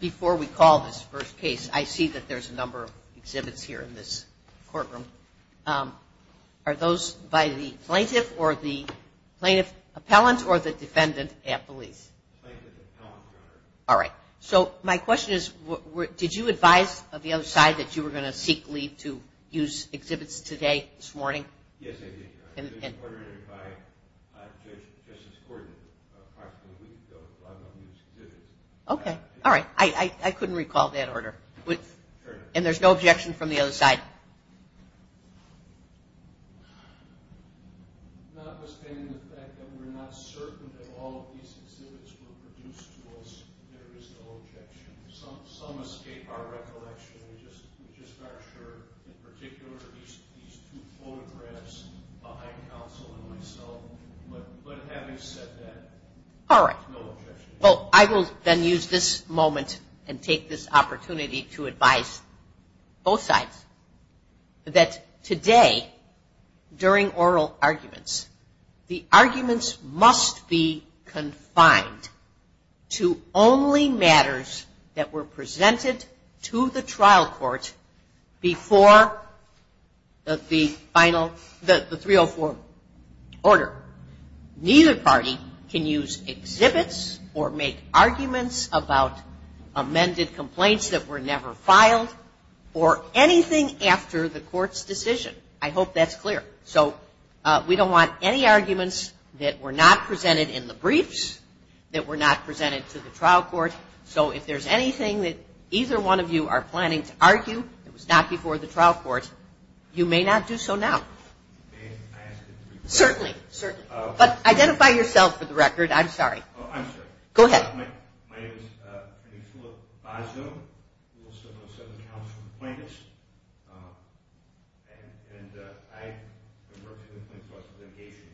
Before we call this first case, I see that there's a number of exhibits here in this courtroom. Are those by the plaintiff or the plaintiff's appellant or the defendant at police? Plaintiff's appellant, Your Honor. All right. So my question is, did you advise the other side that you were going to seek leave to use exhibits today, this morning? Yes, I did, Your Honor. I've been ordered by Judge Justice Gordon a couple of weeks ago to run on these exhibits. Okay. All right. I couldn't recall that order. And there's no objection from the other side? Notwithstanding the fact that we're not certain that all of these exhibits were produced to us, there is no objection. Some escape our recollection. We're just not sure. In particular, these two photographs behind counsel and myself. But having said that, there's no objection. Well, I will then use this moment and take this opportunity to advise both sides that today, during oral arguments, the arguments must be confined to only matters that were presented to the trial court before the final, the 304 order. Neither party can use exhibits or make arguments about amended complaints that were never filed or anything after the court's decision. I hope that's clear. So we don't want any arguments that were not presented in the briefs, that were not presented to the trial court. So if there's anything that either one of you are planning to argue that was not before the trial court, you may not do so now. Certainly. But identify yourself for the record. I'm sorry. Go ahead. My name is Philip Bazzo. I'm a 707 counsel appointed. And I've been working with the Planned Parenthood Association.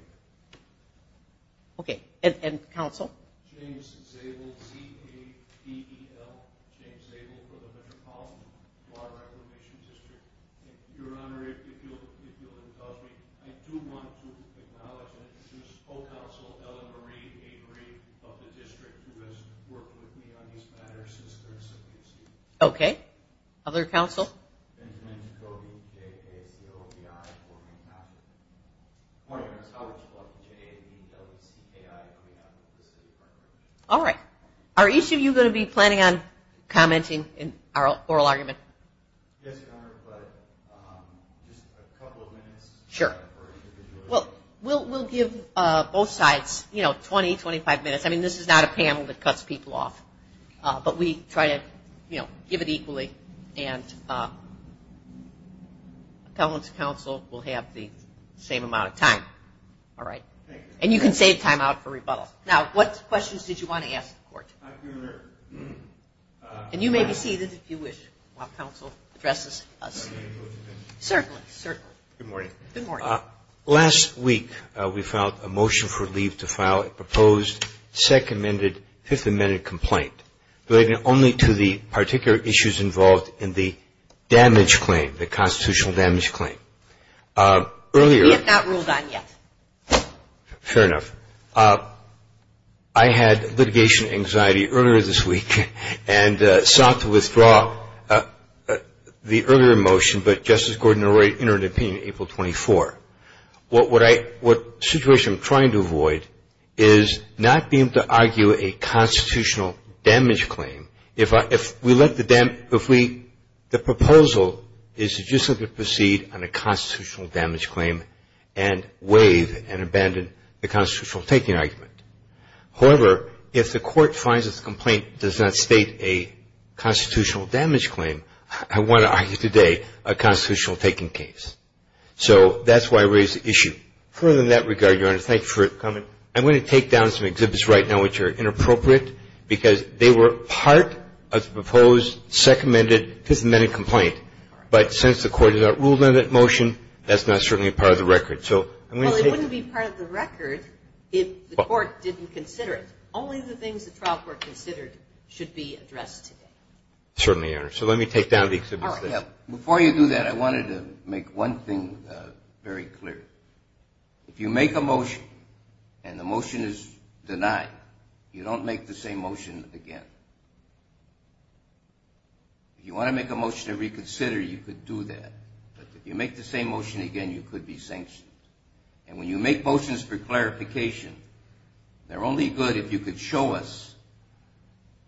Okay. And counsel? James Zabel, Z-A-B-E-L. James Zabel from the Metropolitan Law Reclamation District. Your Honor, if you'll indulge me, I do want to acknowledge and introduce co-counsel Ellen Marie Avery of the district who has worked with me on these matters since their inception. Okay. Other counsel? All right. Are each of you going to be planning on commenting in our oral argument? Yes, Your Honor, but just a couple of minutes. Sure. Well, we'll give both sides, you know, 20, 25 minutes. I mean, this is not a panel that cuts people off. But we try to, you know, give it equally. And appellant's counsel will have the same amount of time. All right. And you can save time out for rebuttal. Now, what questions did you want to ask the court? And you may be seated if you wish while counsel addresses us. Certainly. Certainly. Good morning. Good morning. Last week we filed a motion for leave to file a proposed second-amended, fifth-amended complaint, relating only to the particular issues involved in the damage claim, the constitutional damage claim. We have not ruled on yet. Fair enough. Your Honor, I had litigation anxiety earlier this week and sought to withdraw the earlier motion, but Justice Gordon already entered an opinion on April 24th. What situation I'm trying to avoid is not being able to argue a constitutional damage claim. If we let the damage, if we, the proposal is to just simply proceed on a constitutional damage claim and waive and abandon the constitutional taking argument. However, if the court finds that the complaint does not state a constitutional damage claim, I want to argue today a constitutional taking case. So that's why I raised the issue. Further in that regard, Your Honor, thank you for coming. Your Honor, I'm going to take down some exhibits right now which are inappropriate because they were part of the proposed second-amended, fifth-amended complaint. But since the court has not ruled on that motion, that's not certainly part of the record. So I'm going to take them. Well, it wouldn't be part of the record if the court didn't consider it. Only the things the trial court considered should be addressed today. Certainly, Your Honor. So let me take down the exhibits. Before you do that, I wanted to make one thing very clear. If you make a motion and the motion is denied, you don't make the same motion again. If you want to make a motion to reconsider, you could do that. But if you make the same motion again, you could be sanctioned. And when you make motions for clarification, they're only good if you could show us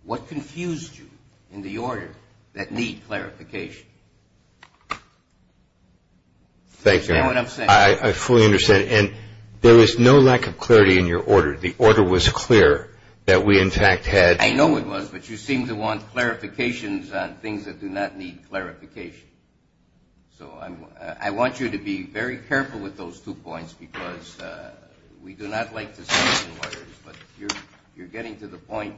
what confused you in the order that need clarification. Thank you. Is that what I'm saying? I fully understand. And there is no lack of clarity in your order. The order was clear that we, in fact, had. I know it was. But you seem to want clarifications on things that do not need clarification. So I want you to be very careful with those two points because we do not like to say the orders. But you're getting to the point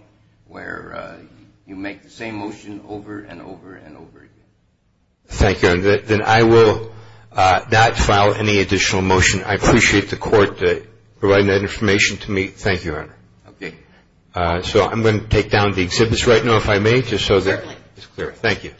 where you make the same motion over and over and over again. Thank you. Then I will not file any additional motion. I appreciate the court providing that information to me. Thank you, Your Honor. Okay. So I'm going to take down the exhibits right now, if I may, just so that it's clear. Thank you.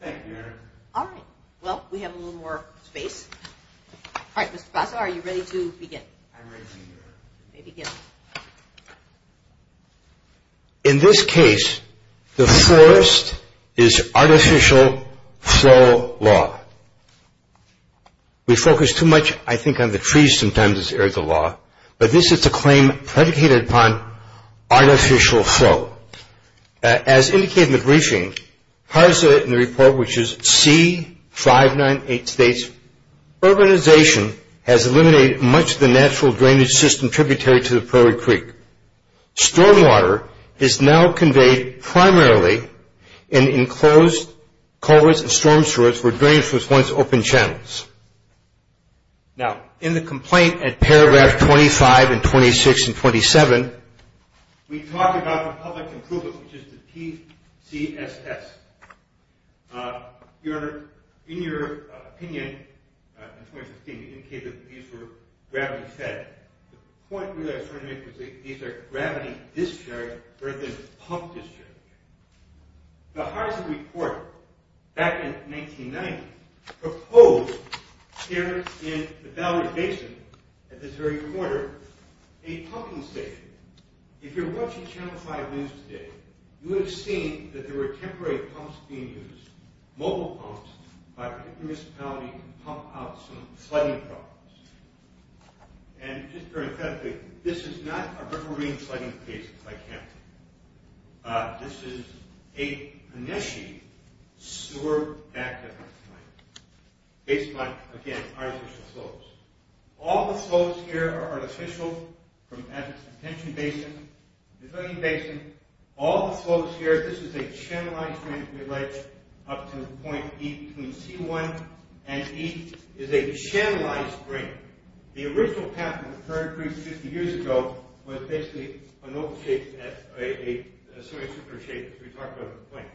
Thank you. Thank you, Your Honor. All right. Well, we have a little more space. All right, Mr. Basso, are you ready to begin? I'm ready, Your Honor. You may begin. In this case, the forest is artificial flow law. We focus too much, I think, on the trees sometimes as areas of law. But this is a claim predicated upon artificial flow. As indicated in the briefing, part of the report, which is C-598 states, urbanization has eliminated much of the natural drainage system tributary to the Prairie Creek. Stormwater is now conveyed primarily in enclosed culverts and storm sewers where drainage was once open channels. Now, in the complaint at paragraph 25 and 26 and 27, we talk about the public improvement, which is the PCSS. Your Honor, in your opinion, in 2016, the incapabilities were gravity fed. The point really I was trying to make was that these are gravity discharge rather than pump discharge. The Heisenberg Court, back in 1990, proposed here in the Bowery Basin, at this very corner, a pumping station. If you're watching Channel 5 News today, you would have seen that there were temporary pumps being used, mobile pumps by a particular municipality to pump out some flooding problems. And just very emphatically, this is not a riverine flooding case like Hampton. This is a panisheed sewer back-damage site, based on, again, artificial flows. All the flows here are artificial, as is the Tension Basin, the Pavilion Basin. All the flows here, this is a channelized drainage relay up to the point E between C-1 and E, is a channelized drain. The original path in the current brief, 50 years ago, was basically an open shape, a semi-circular shape that we talked about at the point.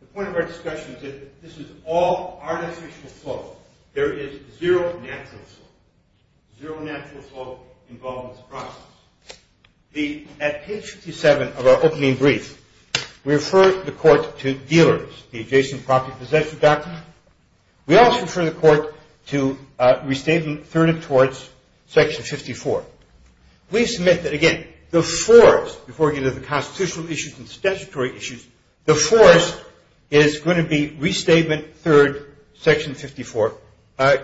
The point of our discussion is that this is all artificial flow. There is zero natural flow. Zero natural flow involved in this process. At page 57 of our opening brief, we refer the court to dealers, the adjacent property possession document. We also refer the court to Restatement Third and Towards, Section 54. We submit that, again, the fourth, before we get into the constitutional issues and statutory issues, the fourth is going to be Restatement Third, Section 54.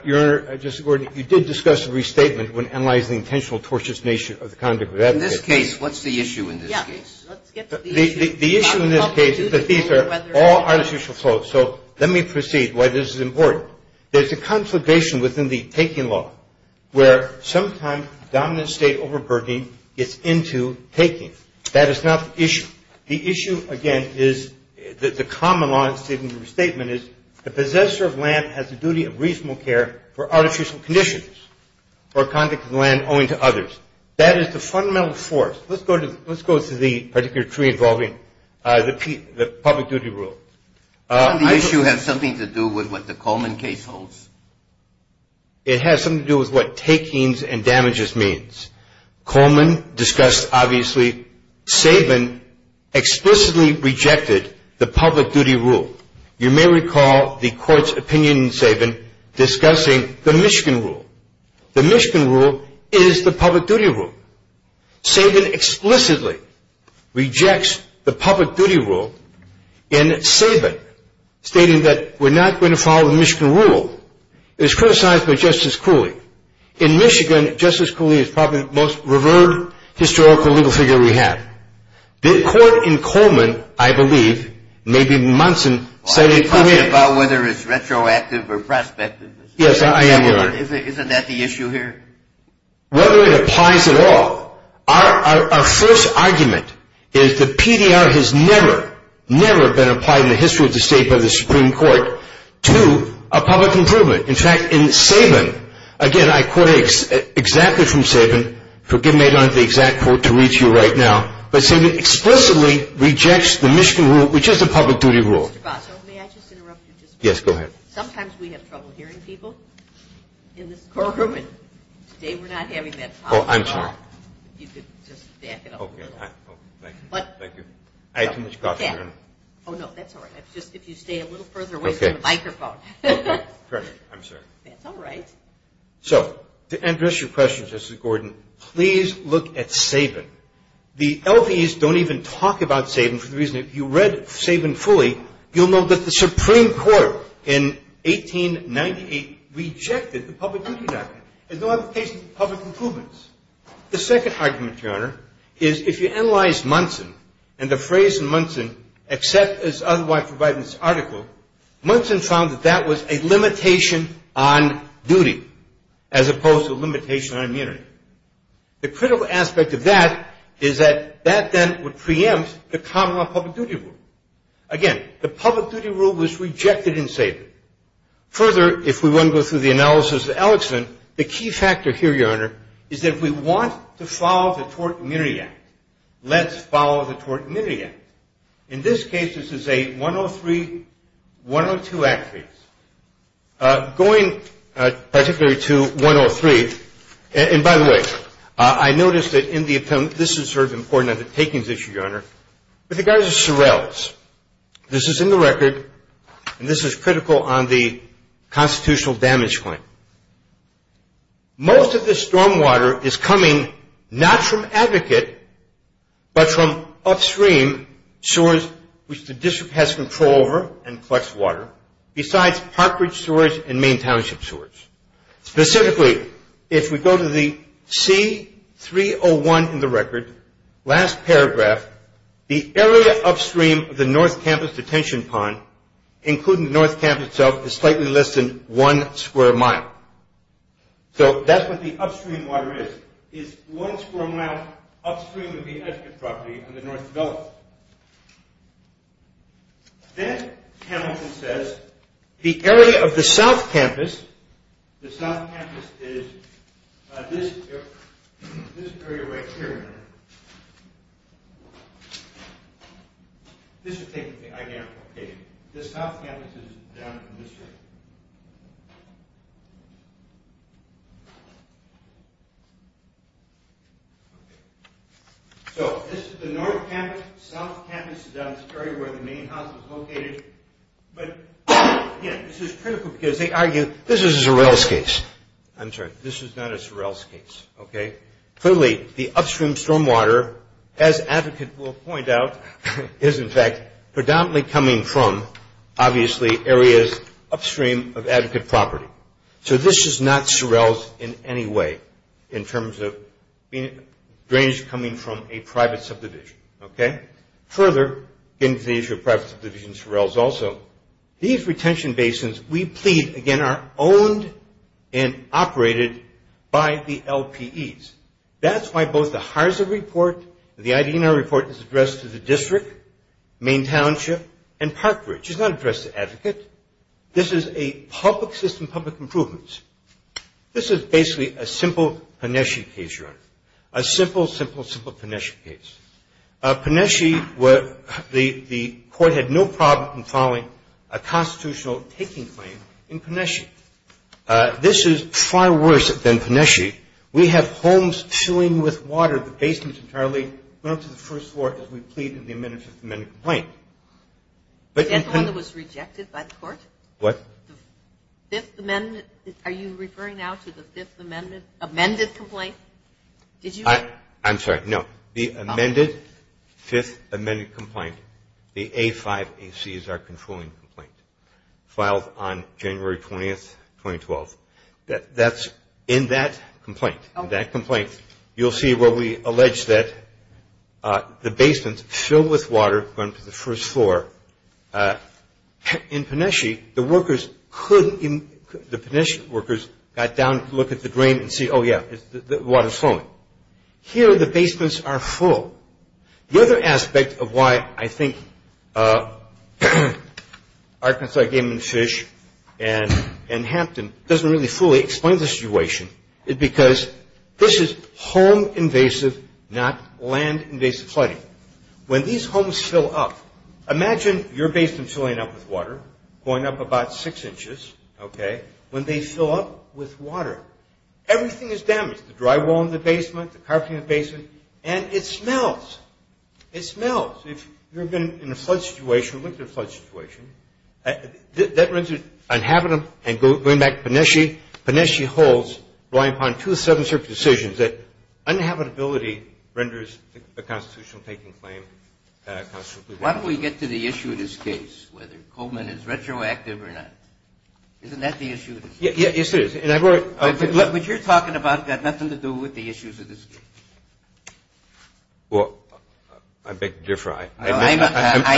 Your Honor, Justice Gordon, you did discuss a restatement when analyzing the intentional tortiousness of the conduct of advocates. In this case, what's the issue in this case? Yeah, let's get to the issue. The issue in this case is that these are all artificial flows. So let me proceed why this is important. There's a conflagration within the taking law where sometimes dominant state overburdening gets into taking. That is not the issue. The issue, again, is that the common law in the statement is the possessor of land has the duty of reasonable care for artificial conditions or conduct of the land owing to others. That is the fundamental force. Let's go to the particular tree involving the public duty rule. Doesn't the issue have something to do with what the Coleman case holds? It has something to do with what takings and damages means. Coleman discussed, obviously, Sabin explicitly rejected the public duty rule. You may recall the Court's opinion in Sabin discussing the Michigan rule. The Michigan rule is the public duty rule. Sabin explicitly rejects the public duty rule in Sabin stating that we're not going to follow the Michigan rule. It was criticized by Justice Cooley. In Michigan, Justice Cooley is probably the most revered historical legal figure we have. The court in Coleman, I believe, maybe in Munson, said it clearly. Are you talking about whether it's retroactive or prospective? Yes, I am here. Isn't that the issue here? Whether it applies at all, our first argument is the PDR has never, never been applied in the history of the state by the Supreme Court to a public improvement. In fact, in Sabin, again, I quote exactly from Sabin. Forgive me, I don't have the exact quote to read to you right now. But Sabin explicitly rejects the Michigan rule, which is the public duty rule. Mr. Basso, may I just interrupt you just for a moment? Yes, go ahead. Sometimes we have trouble hearing people in this courtroom, and today we're not having that problem at all. Oh, I'm sorry. If you could just back it up a little. Thank you. I had too much coffee. Oh, no, that's all right. Just if you stay a little further away from the microphone. Okay, perfect. I'm sorry. That's all right. So to address your question, Justice Gordon, please look at Sabin. The LVs don't even talk about Sabin for the reason if you read Sabin fully, you'll know that the Supreme Court in 1898 rejected the public duty document. There's no other case of public improvements. The second argument, Your Honor, is if you analyze Munson and the phrase in Munson, except as otherwise provided in this article, Munson found that that was a limitation on duty, as opposed to a limitation on immunity. The critical aspect of that is that that then would preempt the common law public duty rule. Again, the public duty rule was rejected in Sabin. Further, if we want to go through the analysis of Alexander, the key factor here, Your Honor, is that we want to follow the Tort Immunity Act. Let's follow the Tort Immunity Act. In this case, this is a 103-102 Act case. Going particularly to 103, and by the way, I noticed that in the, this is sort of important on the takings issue, Your Honor. With regards to Sorrells, this is in the record, and this is critical on the constitutional damage claim. Most of the stormwater is coming not from Advocate, but from upstream sewers, which the district has control over and collects water, besides Park Ridge sewers and Maine Township sewers. Specifically, if we go to the C-301 in the record, last paragraph, the area upstream of the North Campus detention pond, including the North Campus itself, is slightly less than one square mile. So that's what the upstream water is, is one square mile upstream of the Edgecote property on the north development. Then Hamilton says, the area of the South Campus, the South Campus is this area right here, Your Honor. This is taking the identical page. The South Campus is down in this area. So this is the North Campus. South Campus is down in this area where the Maine House is located. But again, this is critical because they argue, this is a Sorrells case. I'm sorry, this is not a Sorrells case, okay? Clearly, the upstream stormwater, as Advocate will point out, is in fact predominantly coming from, obviously, areas upstream of the Edgecote property. So this is not Sorrells in any way in terms of drainage coming from a private subdivision, okay? Further, getting to the issue of private subdivisions, Sorrells also, these retention basins, we plead, again, are owned and operated by the LPEs. That's why both the HARSA report, the ID&R report is addressed to the district, Maine Township, and Park Ridge. It's not addressed to Advocate. This is a public system, public improvements. This is basically a simple PNESHE case, Your Honor, a simple, simple, simple PNESHE case. PNESHE, the court had no problem in filing a constitutional taking claim in PNESHE. This is far worse than PNESHE. We have homes filling with water, the basements entirely, going up to the first floor as we plead in the amendment to the amendment complaint. That's the one that was rejected by the court? What? The Fifth Amendment, are you referring now to the Fifth Amendment amended complaint? I'm sorry, no. The amended Fifth Amendment complaint, the A5AC is our controlling complaint, filed on January 20, 2012. That's in that complaint. You'll see where we allege that the basements filled with water going to the first floor. In PNESHE, the PNESHE workers got down to look at the drain and see, oh, yeah, the water's flowing. Here, the basements are full. The other aspect of why I think Arkansas Game and Fish and Hampton doesn't really fully explain the situation is because this is home-invasive, not land-invasive flooding. When these homes fill up, imagine your basement filling up with water, going up about six inches, okay, when they fill up with water, everything is damaged, the drywall in the basement, the carpeting in the basement, and it smells. It smells. If you've been in a flood situation, lived in a flood situation, that renders it uninhabitable, and going back to PNESHE, PNESHE holds, relying upon two seven-circuit decisions, that uninhabitability renders a constitutional taking claim constitutionally wrong. Why don't we get to the issue of this case, whether Coleman is retroactive or not? Isn't that the issue of this case? Yes, it is. But you're talking about got nothing to do with the issues of this case. Well, I beg to differ. I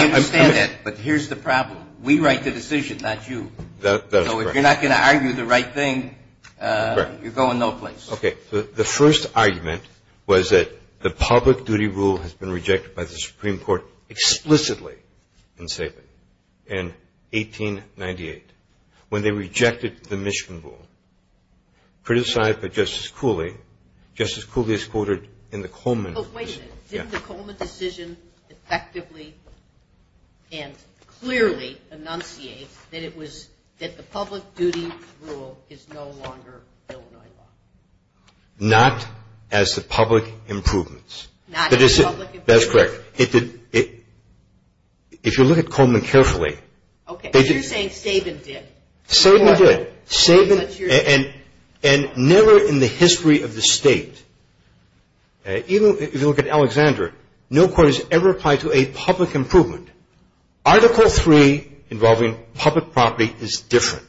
understand that, but here's the problem. We write the decision, not you. So if you're not going to argue the right thing, you're going no place. Okay. The first argument was that the public duty rule has been rejected by the Supreme Court explicitly in Sabin in 1898. When they rejected the Michigan rule, criticized by Justice Cooley, Justice Cooley is quoted in the Coleman decision. Didn't the Coleman decision effectively and clearly enunciate that the public duty rule is no longer Illinois law? Not as the public improvements. Not as the public improvements. That's correct. If you look at Coleman carefully. Okay. But you're saying Sabin did. Sabin did. And never in the history of the State, even if you look at Alexander, no court has ever applied to a public improvement. Article 3 involving public property is different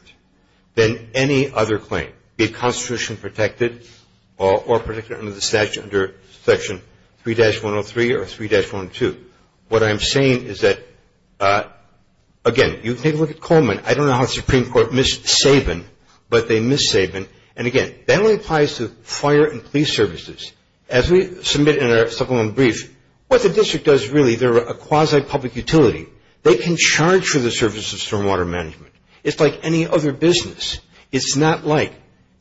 than any other claim. Be it constitutionally protected or protected under the statute under section 3-103 or 3-102. What I'm saying is that, again, you take a look at Coleman. I don't know how the Supreme Court missed Sabin, but they missed Sabin. And, again, that only applies to fire and police services. As we submit in our supplement brief, what the district does really, they're a quasi-public utility. They can charge for the services of stormwater management. It's like any other business. It's not like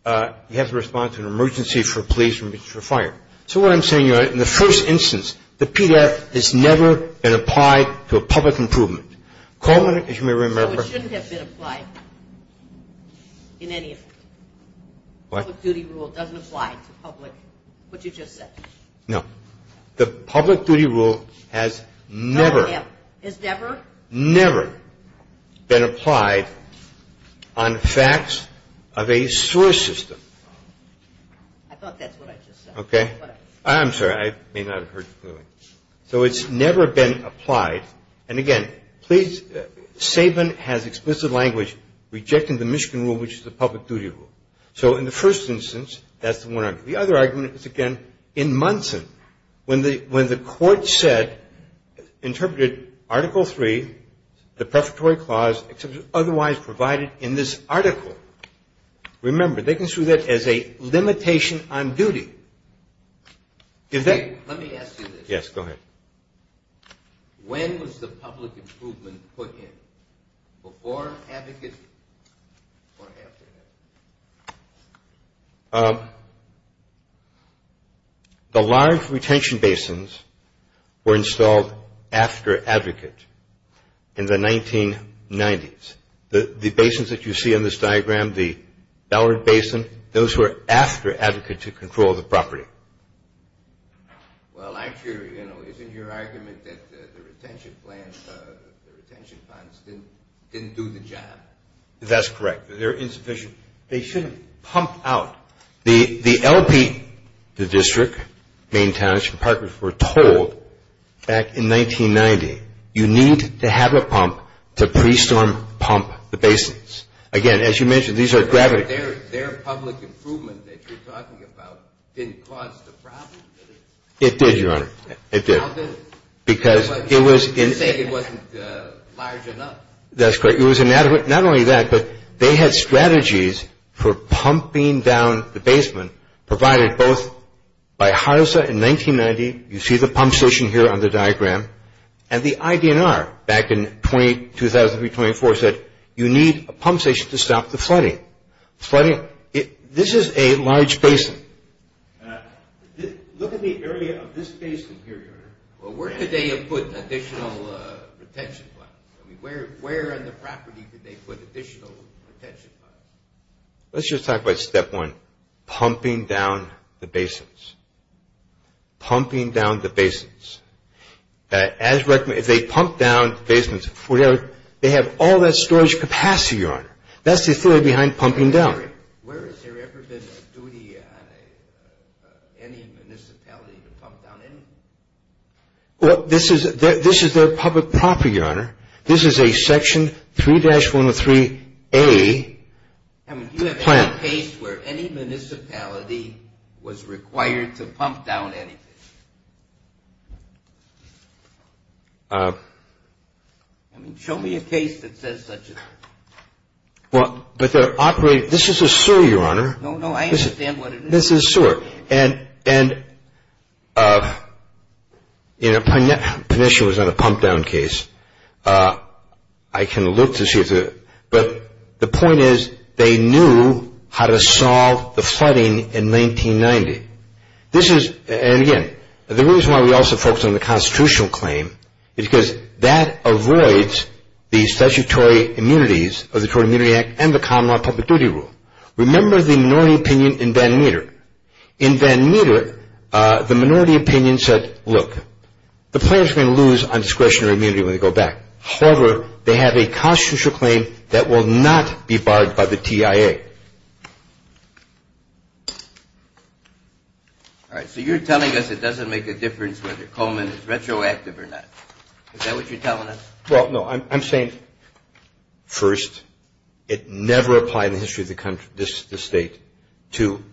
you have to respond to an emergency for a police or a fire. So what I'm saying, in the first instance, the PDF has never been applied to a public improvement. Coleman, as you may remember. So it shouldn't have been applied in any of them. What? Public duty rule doesn't apply to public, what you just said. No. The public duty rule has never. Has never? Never been applied on facts of a sewer system. I thought that's what I just said. Okay. I'm sorry. I may not have heard you clearly. So it's never been applied. And, again, please, Sabin has explicit language rejecting the Michigan rule, which is the public duty rule. So in the first instance, that's the one argument. The other argument is, again, in Munson. When the court said, interpreted Article III, the prefatory clause, except it was otherwise provided in this article. Remember, they consider that as a limitation on duty. Let me ask you this. Yes, go ahead. When was the public improvement put in? Before Advocate or after Advocate? The large retention basins were installed after Advocate in the 1990s. The basins that you see on this diagram, the Ballard Basin, those were after Advocate to control the property. Well, actually, you know, isn't your argument that the retention plans, the retention plans didn't do the job? That's correct. They're insufficient. They shouldn't pump out. The LP, the district, main township, and parkers were told back in 1990, you need to have a pump to pre-storm pump the basins. Again, as you mentioned, these are gravity. Their public improvement that you're talking about didn't cause the problem, did it? It did, Your Honor. It did. How did it? Because it was insane. You're saying it wasn't large enough. That's correct. It was inadequate. Not only that, but they had strategies for pumping down the basement provided both by HRSA in 1990. You see the pump station here on the diagram. And the IDNR back in 2003-2004 said you need a pump station to stop the flooding. Flooding, this is a large basin. Look at the area of this basin here, Your Honor. Well, where could they have put additional retention plans? I mean, where on the property did they put additional retention plans? Let's just talk about step one, pumping down the basins, pumping down the basins. As recommended, if they pump down basements, they have all that storage capacity, Your Honor. That's the theory behind pumping down. Where has there ever been a duty on any municipality to pump down anything? Well, this is their public property, Your Honor. This is a Section 3-103A plan. I mean, do you have any case where any municipality was required to pump down anything? I mean, show me a case that says such a thing. Well, but they're operating – this is a sewer, Your Honor. No, no, I understand what it is. This is a sewer. And, you know, Penicia was on a pump down case. I can look to see if – but the point is they knew how to solve the flooding in 1990. This is – and, again, the reason why we also focus on the constitutional claim is because that avoids the statutory immunities of the Tort Immunity Act and the Common Law Public Duty Rule. Remember the minority opinion in Van Meter. In Van Meter, the minority opinion said, look, the plan is going to lose on discretionary immunity when they go back. However, they have a constitutional claim that will not be barred by the TIA. All right, so you're telling us it doesn't make a difference whether Coleman is retroactive or not. Is that what you're telling us? Well, no, I'm saying, first, it never applied in the history of the state to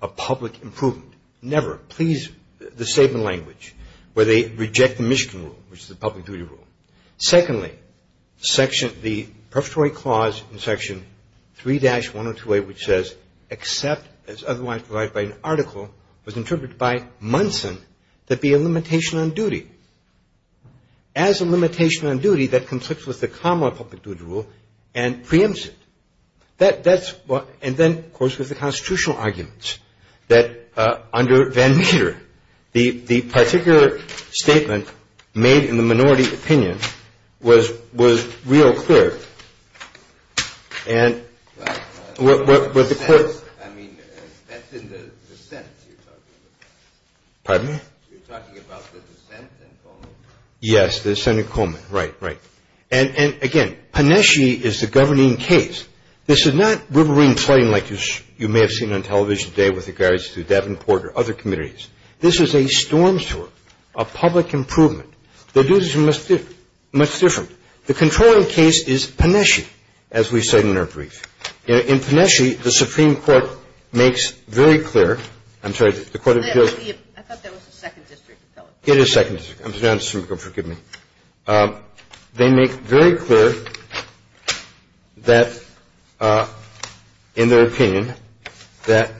a public improvement. Never. Please, the statement of language, where they reject the Michigan Rule, which is a public duty rule. Secondly, the prefatory clause in Section 3-102A, which says, except as otherwise provided by an article, was interpreted by Munson to be a limitation on duty. As a limitation on duty, that conflicts with the Common Law Public Duty Rule and preempts it. And then, of course, there's the constitutional arguments that, under Van Meter, the particular statement made in the minority opinion was real clear. And what the court- I mean, that's in the dissent you're talking about. Pardon me? You're talking about the dissent in Coleman? Yes, the dissent in Coleman. Right, right. And, again, Panesci is the governing case. This is not riverine flooding like you may have seen on television today with regards to Davenport or other communities. This is a storm sewer, a public improvement. The duties are much different. The controlling case is Panesci, as we said in our brief. In Panesci, the Supreme Court makes very clear-I'm sorry, the Court of Appeals- I thought that was the Second District of Philadelphia. It is Second District. I'm sorry, forgive me. They make very clear that, in their opinion, that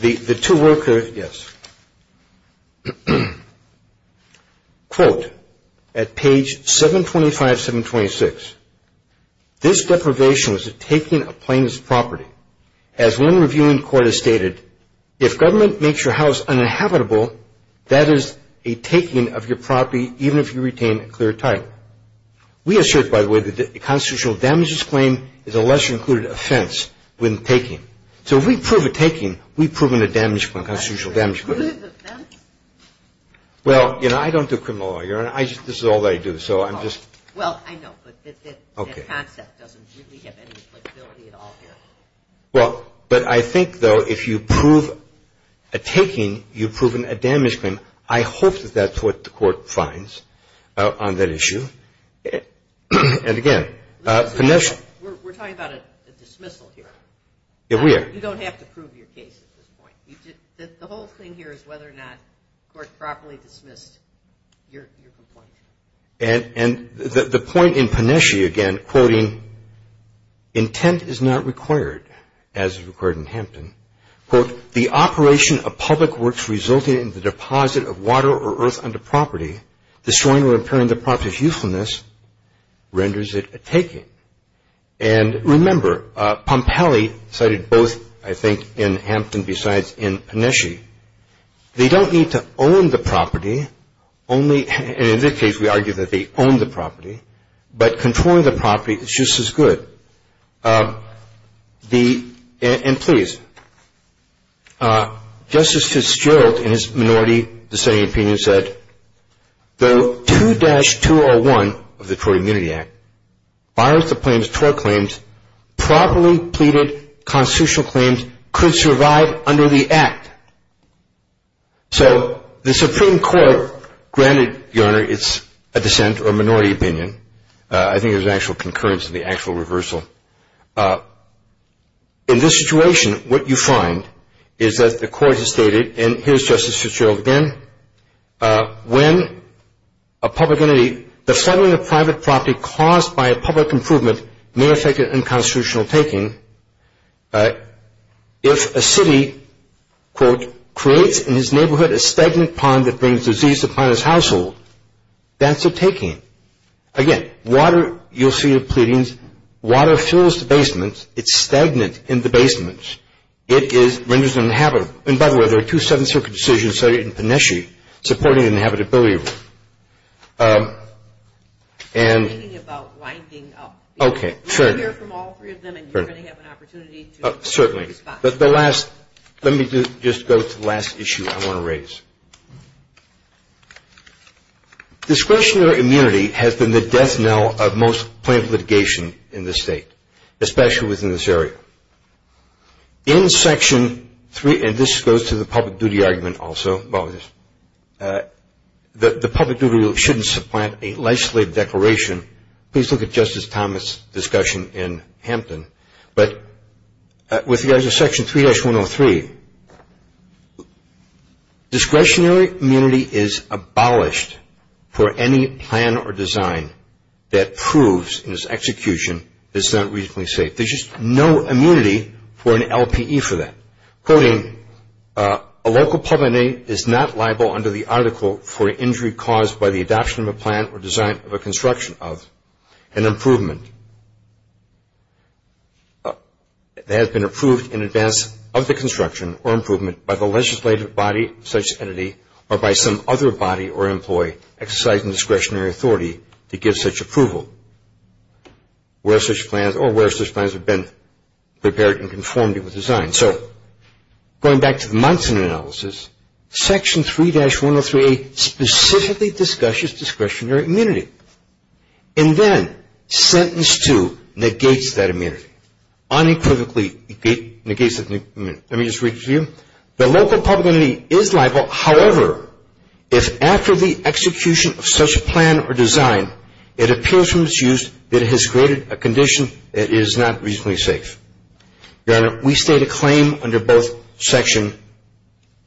the two workers-yes. Quote at page 725, 726, This deprivation was a taking of plaintiff's property. As one reviewing court has stated, if government makes your house uninhabitable, that is a taking of your property, even if you retain a clear title. We assert, by the way, that a constitutional damages claim is a lesser-included offense when taking. So if we prove a taking, we've proven a damage claim, a constitutional damage claim. Well, you know, I don't do criminal law, Your Honor. This is all that I do, so I'm just- Well, I know, but that concept doesn't really have any flexibility at all here. Well, but I think, though, if you prove a taking, you've proven a damage claim. I hope that that's what the court finds on that issue. And, again, Panesci- We're talking about a dismissal here. Yeah, we are. You don't have to prove your case at this point. The whole thing here is whether or not the court properly dismissed your complaint. And the point in Panesci, again, quoting, intent is not required, as is required in Hampton, quote, the operation of public works resulting in the deposit of water or earth onto property, destroying or impairing the property's usefulness, renders it a taking. And, remember, Pompalli cited both, I think, in Hampton besides in Panesci. They don't need to own the property. Only, and in this case, we argue that they own the property, but controlling the property is just as good. And, please, Justice Fitzgerald, in his minority dissenting opinion, said, though 2-201 of the Tort Immunity Act, bars the claims, tort claims, properly pleaded constitutional claims could survive under the Act. So the Supreme Court granted, Your Honor, its dissent or minority opinion. I think it was actual concurrence in the actual reversal. In this situation, what you find is that the court has stated, and here's Justice Fitzgerald again, when a public entity, the settling of private property caused by a public improvement may affect an unconstitutional taking. If a city, quote, creates in his neighborhood a stagnant pond that brings disease upon his household, that's a taking. Again, water, you'll see the pleadings. Water fills the basement. It's stagnant in the basement. It renders it uninhabitable. And, by the way, there are two Seventh Circuit decisions in Pineshie supporting the inhabitability rule. I'm thinking about winding up. Okay, sure. We're going to hear from all three of them, and you're going to have an opportunity to respond. Certainly. But the last, let me just go to the last issue I want to raise. Discretionary immunity has been the death knell of most plaintiff litigation in this state, especially within this area. In Section 3, and this goes to the public duty argument also, the public duty shouldn't supplant a life slave declaration. Please look at Justice Thomas' discussion in Hampton. But with regard to Section 3-103, discretionary immunity is abolished for any plan or design that proves in its execution that it's not reasonably safe. There's just no immunity for an LPE for that. Quoting, a local public entity is not liable under the article for an injury caused by the adoption of a plan or design of a construction of an improvement that has been approved in advance of the construction or improvement by the legislative body of such entity or by some other body or employee exercising discretionary authority to give such approval. Where such plans or where such plans have been prepared in conformity with design. So going back to the Munson analysis, Section 3-103A specifically discusses discretionary immunity. And then, Sentence 2 negates that immunity. Unequivocally negates that immunity. Let me just read it to you. The local public entity is liable, however, if after the execution of such a plan or design, it appears from its use that it has created a condition that is not reasonably safe. Your Honor, we state a claim under both Section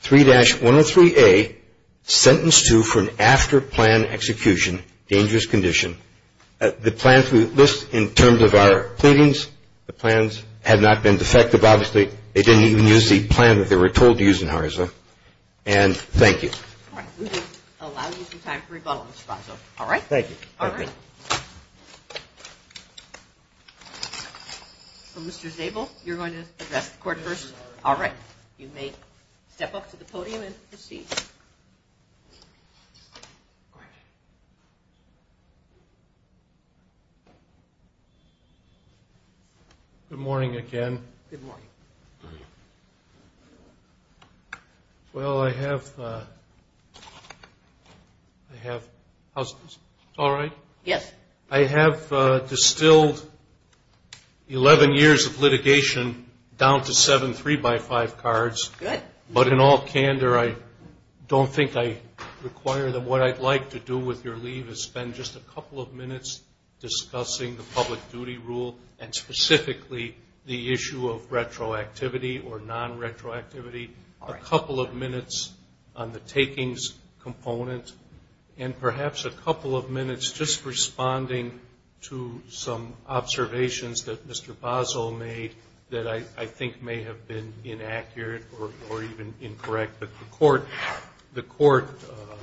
3-103A, Sentence 2 for an after plan execution, dangerous condition. The plans we list in terms of our pleadings, the plans have not been defective, obviously. They didn't even use the plan that they were told to use in Arizona. And thank you. We will allow you some time for rebuttal, Mr. Franzo. All right? Thank you. Mr. Zabel, you're going to address the Court first. All right. You may step up to the podium and proceed. Good morning again. Good morning. Good morning. Well, I have – I have – how's this? All right? Yes. I have distilled 11 years of litigation down to seven 3-by-5 cards. Good. But in all candor, I don't think I require them. What I'd like to do with your leave is spend just a couple of minutes discussing the public duty rule and specifically the issue of retroactivity or non-retroactivity, a couple of minutes on the takings component, and perhaps a couple of minutes just responding to some observations that Mr. Basel made that I think may have been inaccurate or even incorrect. But the Court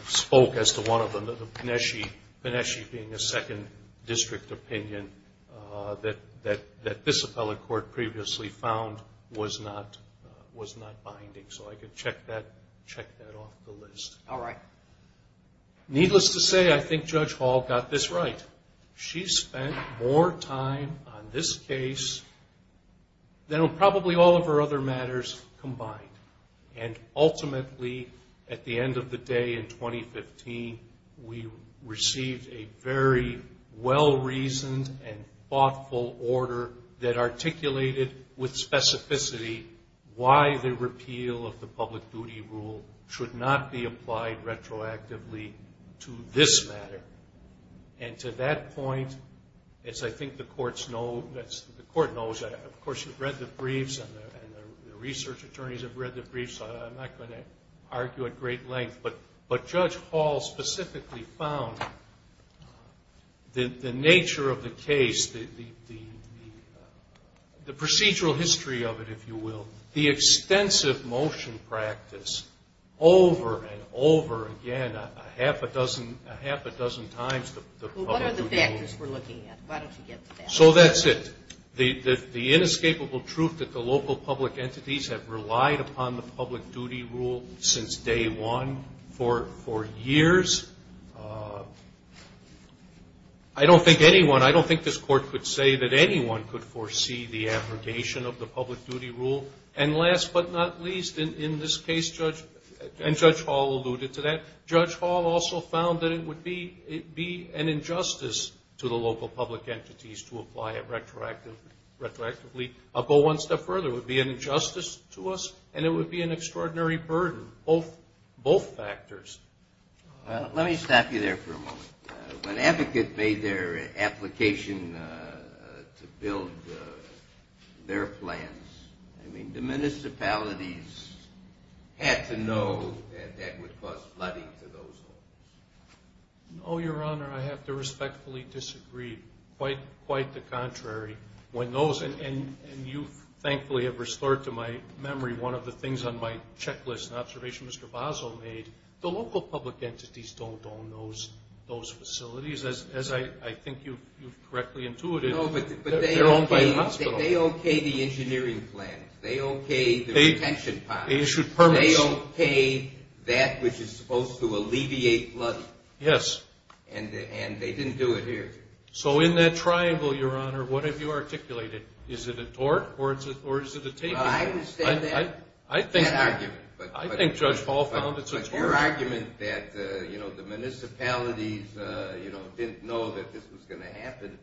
spoke as to one of them, the Pineschi being a second district opinion, that this appellate court previously found was not binding. So I could check that off the list. All right. Needless to say, I think Judge Hall got this right. She spent more time on this case than on probably all of her other matters combined. And ultimately, at the end of the day in 2015, we received a very well-reasoned and thoughtful order that articulated with specificity why the repeal of the public duty rule should not be applied retroactively to this matter. And to that point, as I think the courts know, of course you've read the briefs and the research attorneys have read the briefs, so I'm not going to argue at great length. But Judge Hall specifically found the nature of the case, the procedural history of it, if you will, the extensive motion practice over and over again a half a dozen times the public duty rule. Well, what are the factors we're looking at? Why don't you get to that? So that's it. The inescapable truth that the local public entities have relied upon the public duty rule since day one for years, I don't think anyone, I don't think this court could say that anyone could foresee the abrogation of the public duty rule. And last but not least in this case, and Judge Hall alluded to that, Judge Hall also found that it would be an injustice to the local public entities to apply it retroactively. I'll go one step further. It would be an injustice to us and it would be an extraordinary burden, both factors. Let me stop you there for a moment. When advocates made their application to build their plans, I mean the municipalities had to know that that would cause flooding to those homes. No, Your Honor, I have to respectfully disagree. Quite the contrary. When those, and you thankfully have restored to my memory one of the things on my checklist, an observation Mr. Bozzo made, the local public entities don't own those facilities. As I think you correctly intuited, they're owned by the hospital. They okayed the engineering plans. They okayed the retention ponds. They issued permits. They okayed that which is supposed to alleviate flooding. Yes. And they didn't do it here. So in that triangle, Your Honor, what have you articulated? Is it a tort or is it a taking? Well, I understand that argument. I think Judge Hall found it's a tort. Your argument that, you know, the municipalities, you know, didn't know that this was going to happen,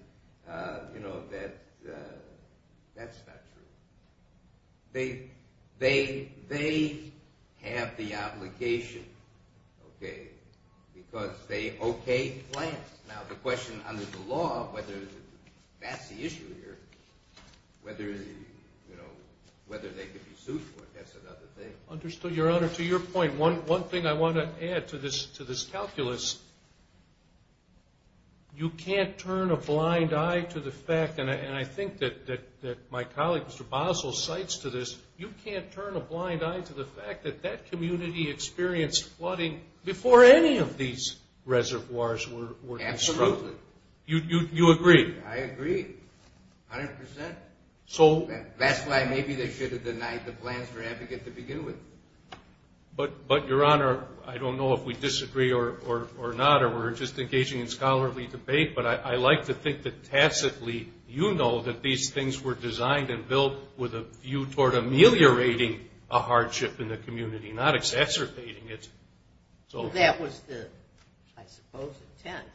you know, that's not true. They have the obligation, okay, because they okayed plans. Now the question under the law whether that's the issue here, whether, you know, whether they can be sued for it, that's another thing. Understood, Your Honor. To your point, one thing I want to add to this calculus, you can't turn a blind eye to the fact, and I think that my colleague, Mr. Basel, cites to this, you can't turn a blind eye to the fact that that community experienced flooding before any of these reservoirs were constructed. Absolutely. You agree? I agree, 100%. That's why maybe they should have denied the plans for advocate to begin with. But, Your Honor, I don't know if we disagree or not, or we're just engaging in scholarly debate, but I like to think that tacitly you know that these things were designed and built with a view toward ameliorating a hardship in the community, not exacerbating it. So that was the, I suppose, intent.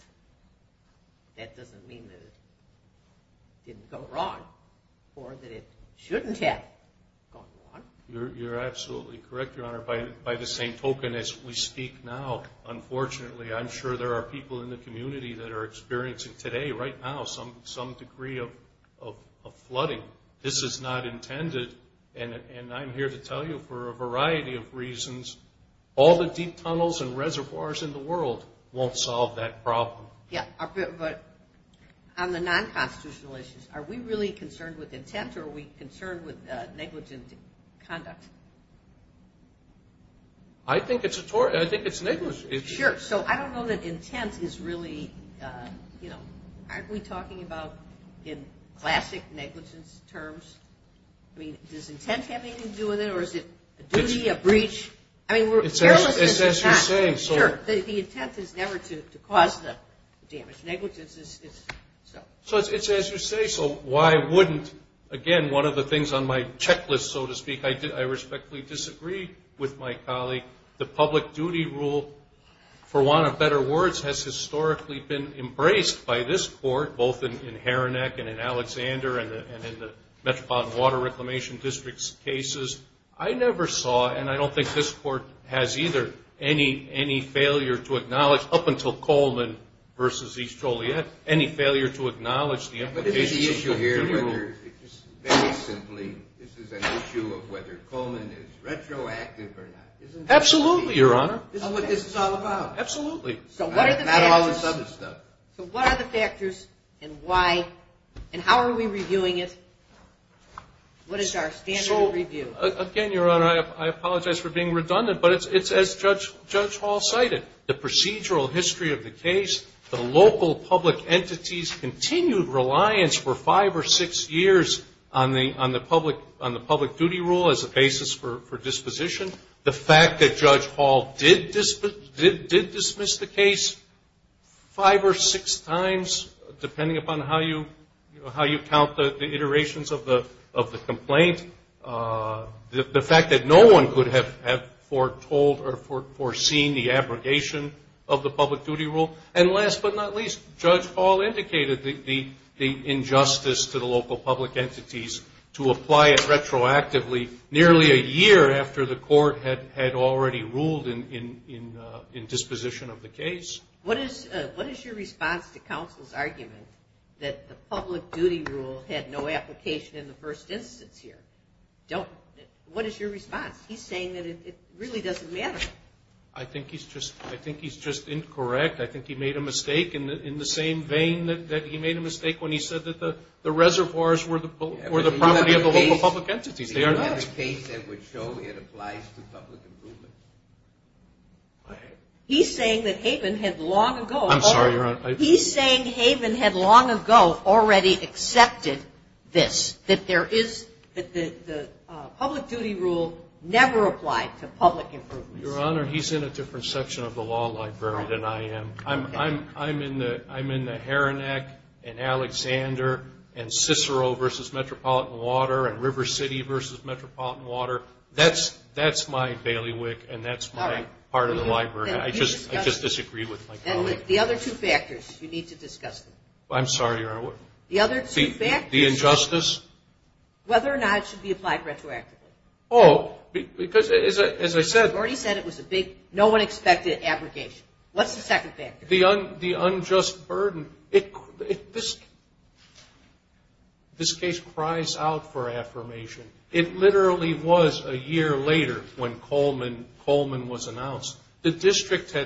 That doesn't mean that it didn't go wrong or that it shouldn't have gone wrong. You're absolutely correct, Your Honor. By the same token as we speak now, unfortunately I'm sure there are people in the community that are experiencing today, right now, some degree of flooding. This is not intended, and I'm here to tell you for a variety of reasons, all the deep tunnels and reservoirs in the world won't solve that problem. Yeah, but on the non-constitutional issues, are we really concerned with intent or are we concerned with negligent conduct? I think it's negligent. Sure. So I don't know that intent is really, you know, aren't we talking about in classic negligence terms? I mean, does intent have anything to do with it or is it a duty, a breach? I mean, we're careless because it's not. It's as you're saying. Sure. The intent is never to cause the damage. Negligence is, so. So it's as you say, so why wouldn't, again, one of the things on my checklist, so to speak, I respectfully disagree with my colleague. The public duty rule, for want of better words, has historically been embraced by this court, both in Haranac and in Alexander and in the Metropolitan Water Reclamation District's cases. I never saw, and I don't think this court has either, any failure to acknowledge, up until Coleman versus East Joliet, any failure to acknowledge the implications. But the issue here is very simply this is an issue of whether Coleman is retroactive or not. Absolutely, Your Honor. This is what this is all about. Absolutely. Not all this other stuff. So what are the factors and why and how are we reviewing it? What is our standard of review? Again, Your Honor, I apologize for being redundant, but it's as Judge Hall cited. The procedural history of the case, the local public entity's continued reliance for five or six years on the public duty rule as a basis for disposition. The fact that Judge Hall did dismiss the case five or six times, depending upon how you count the iterations of the complaint, the fact that no one could have foretold or foreseen the abrogation of the public duty rule, and last but not least, Judge Hall indicated the injustice to the local public entities to apply it retroactively nearly a year after the court had already ruled in disposition of the case. What is your response to counsel's argument that the public duty rule had no application in the first instance here? What is your response? He's saying that it really doesn't matter. I think he's just incorrect. I think he made a mistake in the same vein that he made a mistake when he said that the reservoirs were the property of the local public entities. They are not. It's not a case that would show it applies to public improvement. He's saying that Haven had long ago. I'm sorry, Your Honor. He's saying Haven had long ago already accepted this, that the public duty rule never applied to public improvement. Your Honor, he's in a different section of the law library than I am. I'm in the Heronic and Alexander and Cicero versus Metropolitan Water and River City versus Metropolitan Water. That's my bailiwick and that's my part of the library. I just disagree with my colleague. The other two factors you need to discuss. I'm sorry, Your Honor. The other two factors. The injustice. Whether or not it should be applied retroactively. Oh, because as I said. You've already said it was a big, no one expected abrogation. What's the second factor? The unjust burden. This case cries out for affirmation. It literally was a year later when Coleman was announced. The district,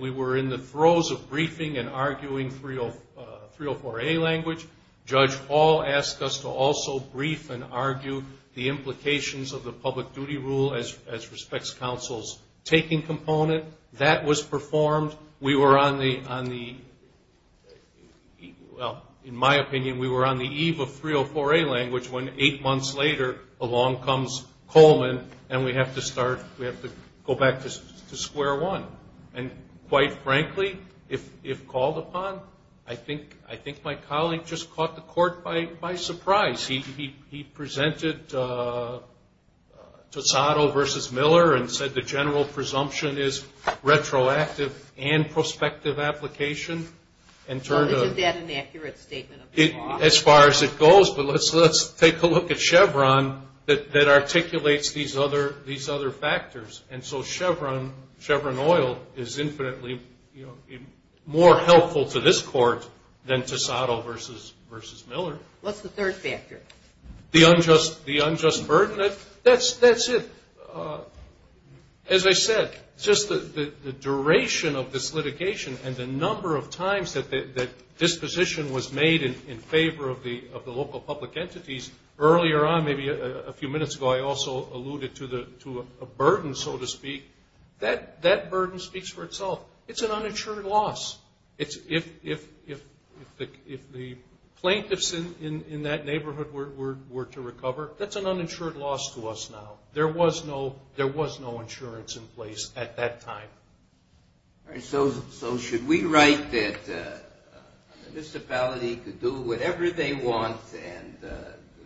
we were in the throes of briefing and arguing 304A language. Judge Hall asked us to also brief and argue the implications of the public duty rule as respects counsel's taking component. That was performed. We were on the, well, in my opinion, we were on the eve of 304A language when eight months later, along comes Coleman and we have to start, we have to go back to square one. And quite frankly, if called upon, I think my colleague just caught the court by surprise. He presented Tosado versus Miller and said the general presumption is retroactive and prospective application. Well, isn't that an accurate statement of the law? As far as it goes, but let's take a look at Chevron that articulates these other factors. And so Chevron Oil is infinitely more helpful to this court than Tosado versus Miller. What's the third factor? The unjust burden. That's it. As I said, just the duration of this litigation and the number of times that disposition was made in favor of the local public entities, earlier on, maybe a few minutes ago, I also alluded to a burden, so to speak. That burden speaks for itself. It's an uninsured loss. If the plaintiffs in that neighborhood were to recover, that's an uninsured loss to us now. There was no insurance in place at that time. So should we write that a municipality could do whatever they want and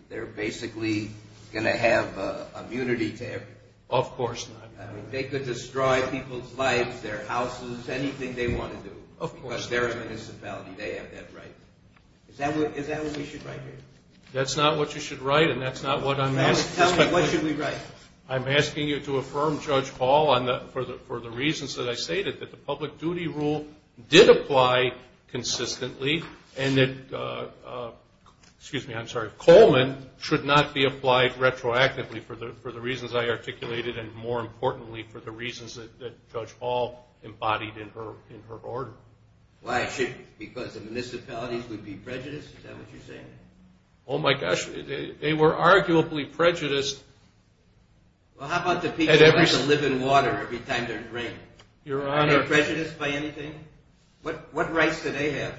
they're basically going to have immunity to everything? Of course not. They could destroy people's lives, their houses, anything they want to do. Of course not. Because they're a municipality. They have that right. Is that what we should write here? That's not what you should write and that's not what I'm asking. Tell me, what should we write? I'm asking you to affirm, Judge Hall, for the reasons that I stated, that the public duty rule did apply consistently and that Coleman should not be applied retroactively for the reasons I articulated and, more importantly, for the reasons that Judge Hall embodied in her order. Why? Because the municipalities would be prejudiced? Is that what you're saying? Oh, my gosh. They were arguably prejudiced. Well, how about the people who have to live in water every time they're drained? Are they prejudiced by anything? What rights do they have?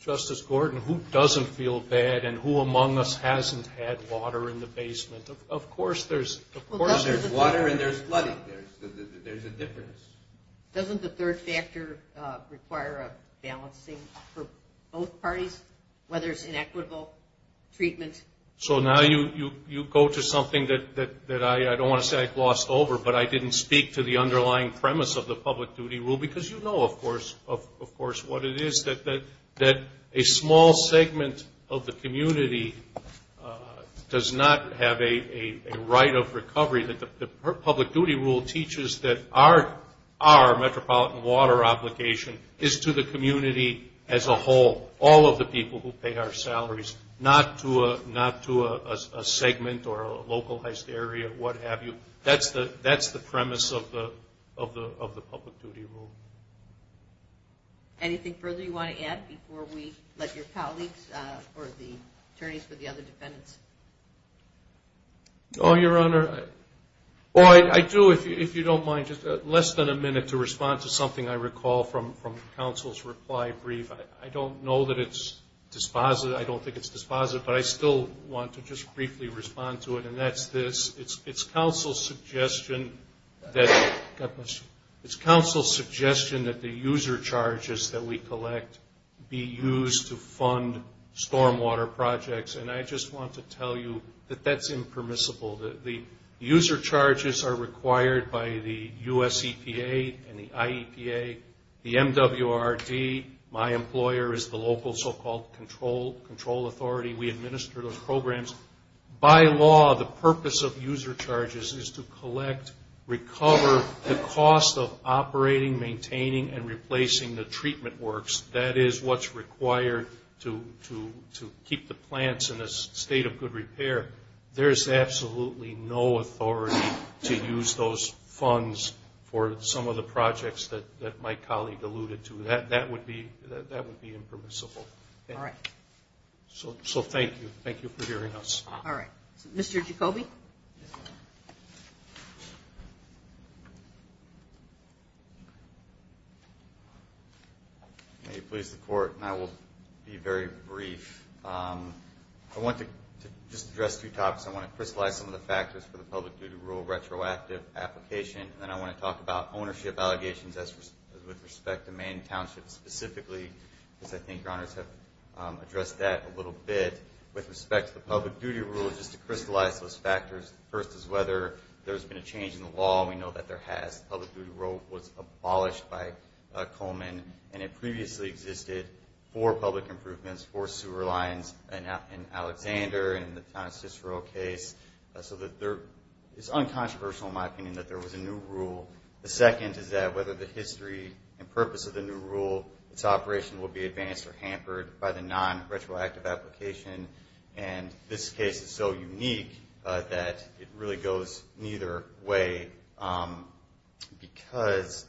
Justice Gordon, who doesn't feel bad and who among us hasn't had water in the basement? Of course there's water and there's flooding. There's a difference. Doesn't the third factor require a balancing for both parties, whether it's inequitable treatment? So now you go to something that I don't want to say I glossed over, but I didn't speak to the underlying premise of the public duty rule because you know, of course, what it is, that a small segment of the community does not have a right of recovery. The public duty rule teaches that our metropolitan water obligation is to the community as a whole. All of the people who pay our salaries, not to a segment or a localized area, what have you. That's the premise of the public duty rule. Anything further you want to add before we let your colleagues or the attorneys for the other defendants? No, Your Honor. I do, if you don't mind, just less than a minute to respond to something I recall from counsel's reply brief. I don't know that it's dispositive. I don't think it's dispositive, but I still want to just briefly respond to it, and that's this. It's counsel's suggestion that the user charges that we collect be used to fund stormwater projects, and I just want to tell you that that's impermissible. The user charges are required by the US EPA and the IEPA, the MWRD. My employer is the local so-called control authority. We administer those programs. By law, the purpose of user charges is to collect, recover the cost of operating, maintaining, and replacing the treatment works. That is what's required to keep the plants in a state of good repair. There's absolutely no authority to use those funds for some of the projects that my colleague alluded to. That would be impermissible. All right. So thank you. Thank you for hearing us. All right. Mr. Jacoby? May it please the Court, and I will be very brief. I want to just address two topics. I want to crystallize some of the factors for the public-duty rule retroactive application, and then I want to talk about ownership allegations with respect to manned townships specifically, because I think Your Honors have addressed that a little bit. With respect to the public-duty rule, just to crystallize those factors, first is whether there's been a change in the law, and we know that there has. Public-duty rule was abolished by Coleman, and it previously existed for public improvements for sewer lines in Alexander and the Town of Cicero case. So it's uncontroversial, in my opinion, that there was a new rule. The second is that whether the history and purpose of the new rule, its operation will be advanced or hampered by the non-retroactive application. And this case is so unique that it really goes neither way, because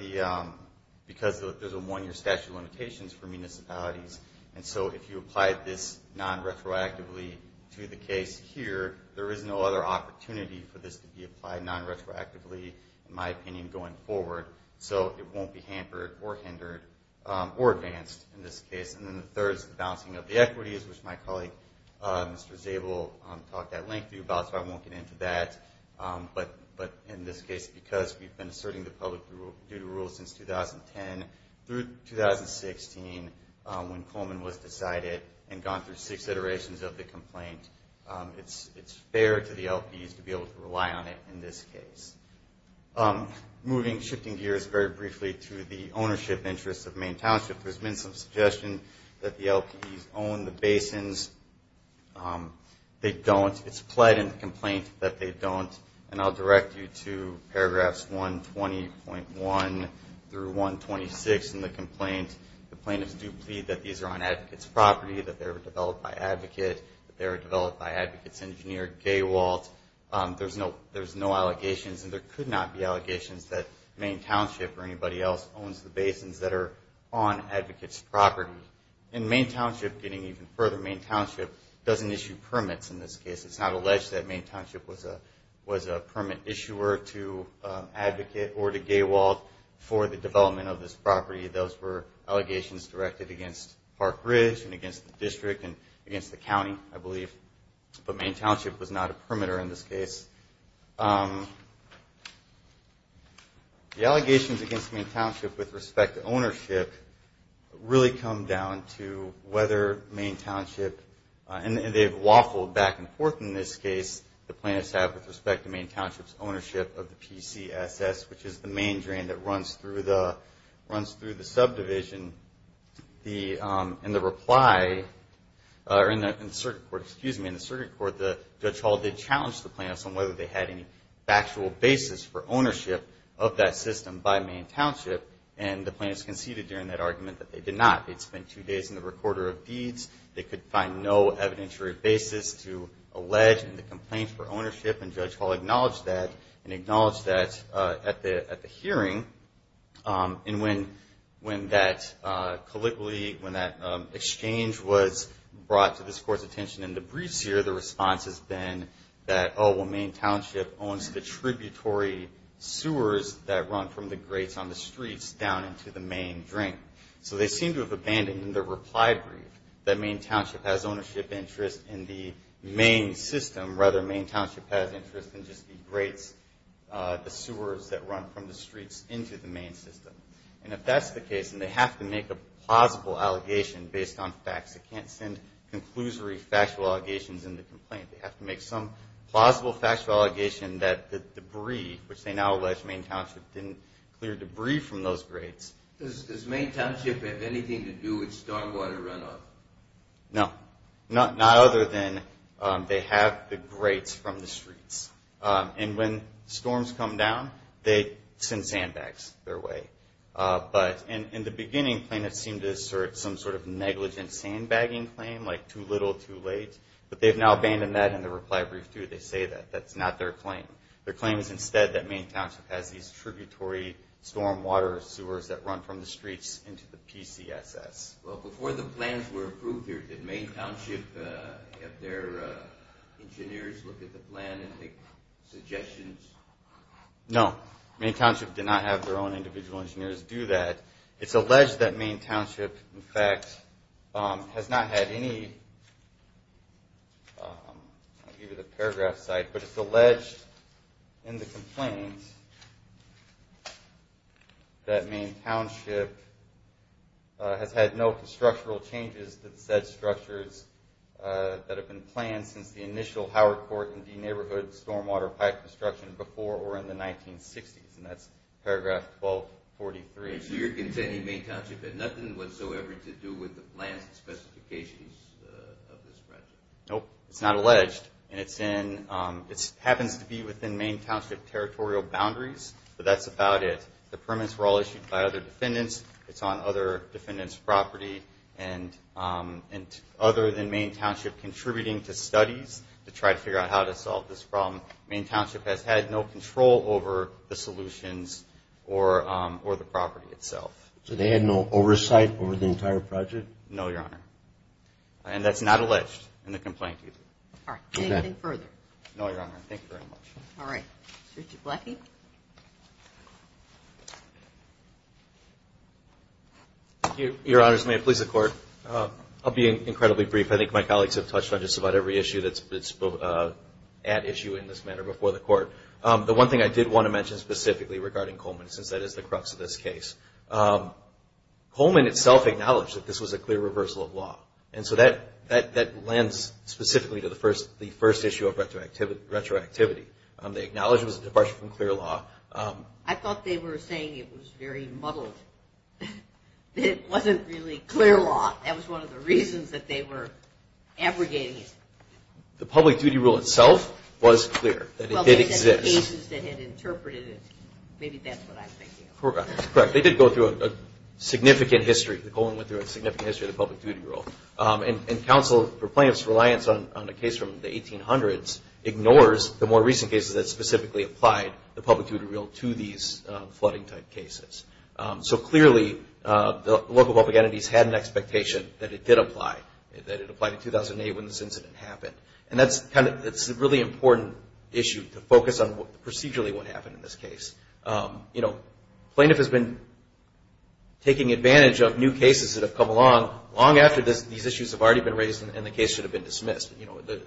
there's a one-year statute of limitations for municipalities. And so if you apply this non-retroactively to the case here, there is no other opportunity for this to be applied non-retroactively, in my opinion, going forward. So it won't be hampered or hindered or advanced in this case. And then the third is the balancing of the equities, which my colleague, Mr. Zabel, talked at length to you about, so I won't get into that. But in this case, because we've been asserting the public-duty rule since 2010 through 2016, when Coleman was decided and gone through six iterations of the complaint, it's fair to the LPs to be able to rely on it in this case. Moving, shifting gears very briefly to the ownership interests of Maine Township, there's been some suggestion that the LPs own the basins. They don't. It's pled in the complaint that they don't. And I'll direct you to paragraphs 120.1 through 126 in the complaint. The plaintiffs do plead that these are on advocate's property, that they were developed by advocate, that they were developed by advocate's engineer, Gawalt. It's not alleged that Maine Township or anybody else owns the basins that are on advocate's property. And Maine Township, getting even further, Maine Township doesn't issue permits in this case. It's not alleged that Maine Township was a permit issuer to advocate or to Gawalt for the development of this property. Those were allegations directed against Park Ridge and against the district and against the county, I believe. But Maine Township was not a permitter in this case. The allegations against Maine Township with respect to ownership really come down to whether Maine Township, and they've waffled back and forth in this case, the plaintiffs have with respect to Maine Township's ownership of the PCSS, which is the main drain that runs through the subdivision. In the reply, or in the circuit court, excuse me, in the circuit court, Judge Hall did challenge the plaintiffs on whether they had any factual basis for ownership of that system by Maine Township. And the plaintiffs conceded during that argument that they did not. They'd spent two days in the recorder of deeds. They could find no evidentiary basis to allege in the complaint for ownership, and Judge Hall acknowledged that at the hearing. And when that colloquially, when that exchange was brought to this court's attention in the briefs here, the response has been that, oh, well, Maine Township owns the tributary sewers that run from the grates on the streets down into the main drain. So they seem to have abandoned the reply brief that Maine Township has ownership interest in the main system. Rather, Maine Township has interest in just the grates, the sewers that run from the streets into the main system. And if that's the case, and they have to make a plausible allegation based on facts, they can't send conclusory factual allegations in the complaint. They have to make some plausible factual allegation that the debris, which they now allege Maine Township didn't clear debris from those grates. Does Maine Township have anything to do with stormwater runoff? No, not other than they have the grates from the streets. And when storms come down, they send sandbags their way. In the beginning, plaintiffs seemed to assert some sort of negligent sandbagging claim, like too little, too late. But they've now abandoned that in the reply brief, too. They say that that's not their claim. Their claim is instead that Maine Township has these tributary stormwater sewers that run from the streets into the PCSS. Well, before the plans were approved here, did Maine Township have their engineers look at the plan and make suggestions? No, Maine Township did not have their own individual engineers do that. It's alleged that Maine Township, in fact, has not had any – I'll give you the paragraph side – but it's alleged in the complaint that Maine Township has had no structural changes to the said structures that have been planned since the initial Howard Court and D Neighborhood stormwater pipe construction before or in the 1960s. And that's paragraph 1243. Is your opinion that Maine Township had nothing whatsoever to do with the plans and specifications of this project? Nope, it's not alleged. It happens to be within Maine Township territorial boundaries, but that's about it. The permits were all issued by other defendants. It's on other defendants' property. And other than Maine Township contributing to studies to try to figure out how to solve this problem, Maine Township has had no control over the solutions or the property itself. So they had no oversight over the entire project? No, Your Honor. And that's not alleged in the complaint either. All right. Anything further? No, Your Honor. Thank you very much. All right. Richard Blackie? Thank you, Your Honors. May it please the Court. I'll be incredibly brief. I think my colleagues have touched on just about every issue that's at issue in this manner before the Court. The one thing I did want to mention specifically regarding Coleman, since that is the crux of this case, Coleman itself acknowledged that this was a clear reversal of law. And so that lends specifically to the first issue of retroactivity. They acknowledged it was a departure from clear law. I thought they were saying it was very muddled, that it wasn't really clear law. That was one of the reasons that they were abrogating it. The public duty rule itself was clear, that it did exist. Well, they said the cases that had interpreted it, maybe that's what I'm thinking of. Correct. They did go through a significant history. Coleman went through a significant history of the public duty rule. And counsel for plaintiff's reliance on a case from the 1800s ignores the more recent cases that specifically applied the public duty rule to these flooding type cases. So clearly the local public entities had an expectation that it did apply, that it applied in 2008 when this incident happened. And that's a really important issue to focus on procedurally what happened in this case. Plaintiff has been taking advantage of new cases that have come along long after these issues have already been raised and the case should have been dismissed.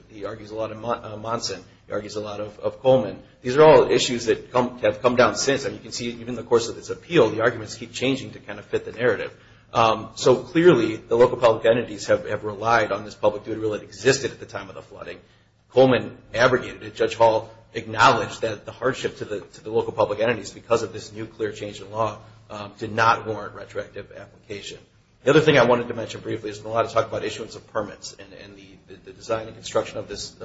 He argues a lot in Monson. He argues a lot of Coleman. These are all issues that have come down since. And you can see even in the course of this appeal the arguments keep changing to kind of fit the narrative. So clearly the local public entities have relied on this public duty rule that existed at the time of the flooding. Coleman abrogated it. Judge Hall acknowledged that the hardship to the local public entities because of this new clear change in law did not warrant retroactive application. The other thing I wanted to mention briefly is a lot of talk about issuance of permits and the design and construction of this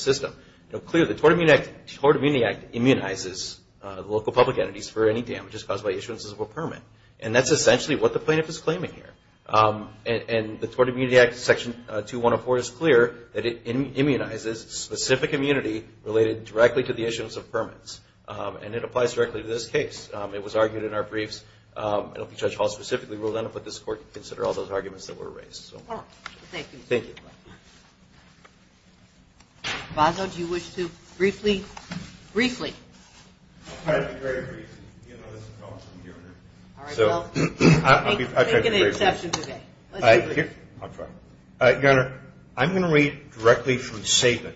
system. Now clearly the Tort Immunity Act immunizes local public entities for any damages caused by issuances of a permit. And that's essentially what the plaintiff is claiming here. And the Tort Immunity Act Section 2104 is clear that it immunizes specific immunity related directly to the issuance of permits. And it applies directly to this case. It was argued in our briefs. I don't think Judge Hall specifically ruled on it, but this Court can consider all those arguments that were raised. Thank you. Thank you. Baso, do you wish to briefly? Briefly. All right, I'll be very brief. You know, this is a problem for the jury. All right, well, take an exception today. I'll try. Your Honor, I'm going to read directly from Saban.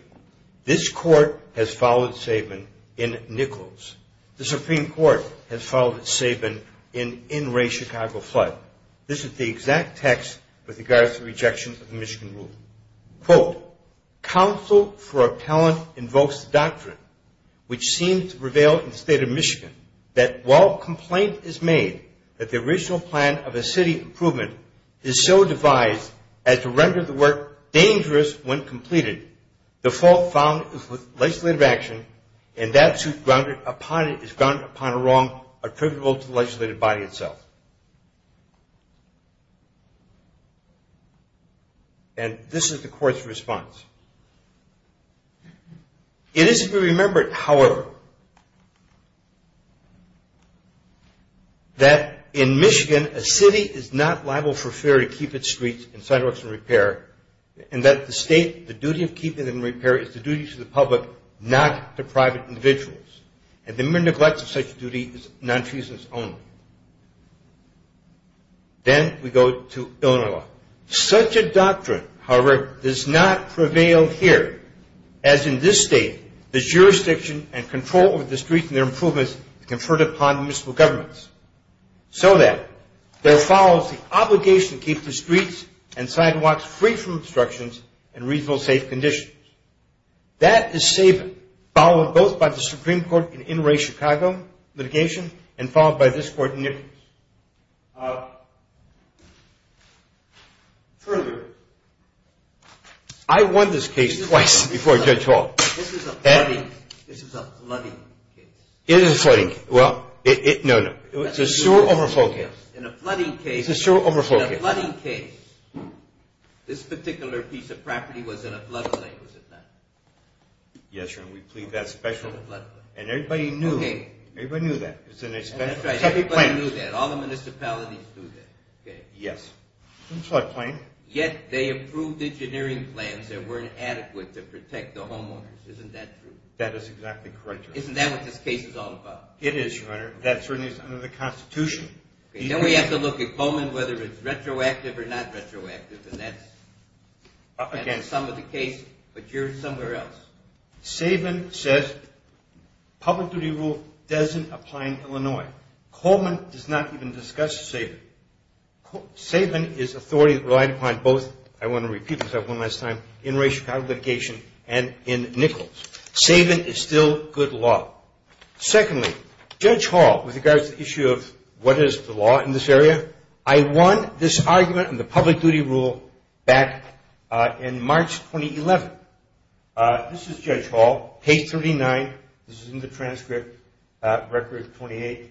This Court has followed Saban in Nichols. The Supreme Court has followed Saban in Wray-Chicago flood. This is the exact text with regards to rejection of the Michigan Rule. Quote, counsel for appellant invokes the doctrine, which seems to prevail in the State of Michigan, that while complaint is made that the original plan of a city improvement is so devised as to render the work dangerous when completed, the fault found is with legislative action, and that suit is grounded upon a wrong attributable to the legislative body itself. And this is the Court's response. Quote, that in Michigan, a city is not liable for fear to keep its streets and sidewalks in repair, and that the State, the duty of keeping them in repair is the duty to the public, not the private individuals. And the mere neglect of such a duty is nonfeasance only. Then we go to Illinois law. Such a doctrine, however, does not prevail here. As in this State, the jurisdiction and control over the streets and their improvements is conferred upon municipal governments, so that there follows the obligation to keep the streets and sidewalks free from obstructions and reasonable safe conditions. That is Saban, followed both by the Supreme Court in Wray-Chicago litigation, and followed by this Court in Nichols. Further, I won this case twice before Judge Hall. This is a flooding case. It is a flooding case. Well, no, no. It's a sewer overflow case. In a flooding case. It's a sewer overflow case. In a flooding case, this particular piece of property was in a floodplain, was it not? Yes, Your Honor, we plead that special. In a floodplain. And everybody knew. Okay. Everybody knew that. That's right. Everybody knew that. All the municipalities knew that. Okay. Yes. In a floodplain. Yet they approved engineering plans that weren't adequate to protect the homeowners. Isn't that true? That is exactly correct, Your Honor. Isn't that what this case is all about? It is, Your Honor. That certainly is under the Constitution. Then we have to look at Coleman, whether it's retroactive or not retroactive, and that's the sum of the case. But you're somewhere else. Sabin says public duty rule doesn't apply in Illinois. Coleman does not even discuss Sabin. Sabin is an authority that relied upon both, I want to repeat this one last time, in race regarding litigation and in Nichols. Sabin is still good law. Secondly, Judge Hall, with regards to the issue of what is the law in this area, I won this argument in the public duty rule back in March 2011. This is Judge Hall, page 39. This is in the transcript, record 28.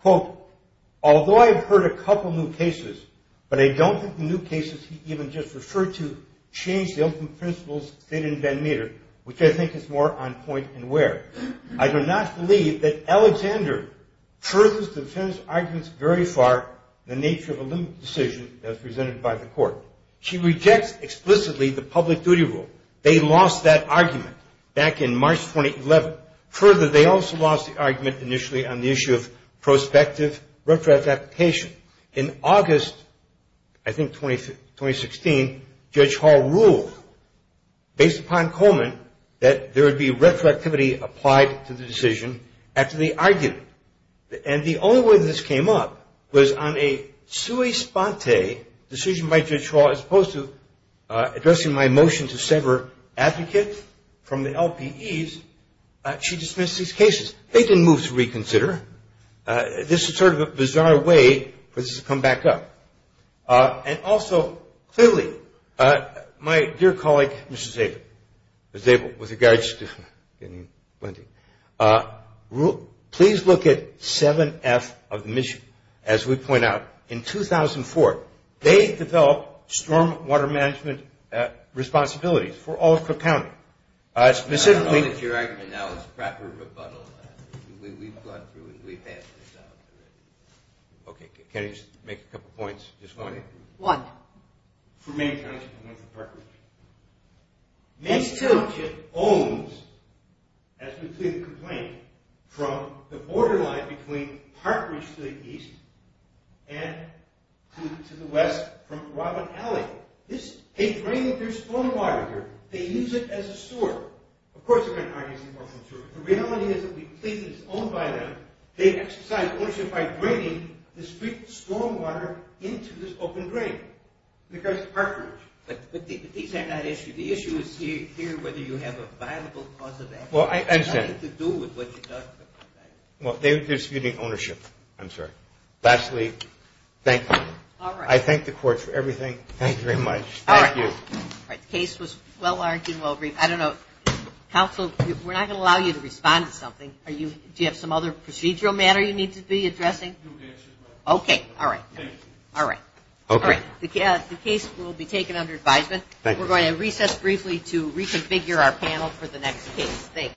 Quote, although I have heard a couple new cases, but I don't think the new cases he even just referred to changed the ultimate principles stated in Van Meter, which I think is more on point and where. I do not believe that Alexander furthers defense arguments very far in the nature of a limited decision as presented by the court. She rejects explicitly the public duty rule. They lost that argument back in March 2011. Further, they also lost the argument initially on the issue of prospective retro-adaptation. In August, I think 2016, Judge Hall ruled, based upon Coleman, that there would be retroactivity applied to the decision after the argument. The only way this came up was on a sui sponte decision by Judge Hall, as opposed to addressing my motion to sever advocates from the LPEs. She dismissed these cases. They didn't move to reconsider. This is sort of a bizarre way for this to come back up. And also, clearly, my dear colleague, Mr. Sabin, with regards to getting plenty, please look at 7F of the mission. As we point out, in 2004, they developed storm water management responsibilities for Alford County. Specifically- I don't know that your argument now is proper rebuttal. We've gone through and we've passed this out. Okay, can I just make a couple points this morning? One. For Main Township and one for Park Ridge. Main Township owns, as we plead the complaint, from the borderline between Park Ridge to the east, and to the west, from Robin Alley. This is a drain that there's storm water here. They use it as a sewer. Of course, they're going to argue it's an orphan sewer. The reality is that we plead that it's owned by them. They exercise ownership by draining the storm water into this open drain because of Park Ridge. But these are not issues. The issue is here whether you have a viable cause of action. Well, I understand. It has nothing to do with what you're talking about. Well, they're disputing ownership. I'm sorry. Lastly, thank you. All right. I thank the court for everything. Thank you very much. Thank you. All right. The case was well-argued, well-briefed. I don't know. Counsel, we're not going to allow you to respond to something. Do you have some other procedural matter you need to be addressing? Okay. All right. Thank you. All right. The case will be taken under advisement. Thank you. We're going to recess briefly to reconfigure our panel for the next case. Thank you.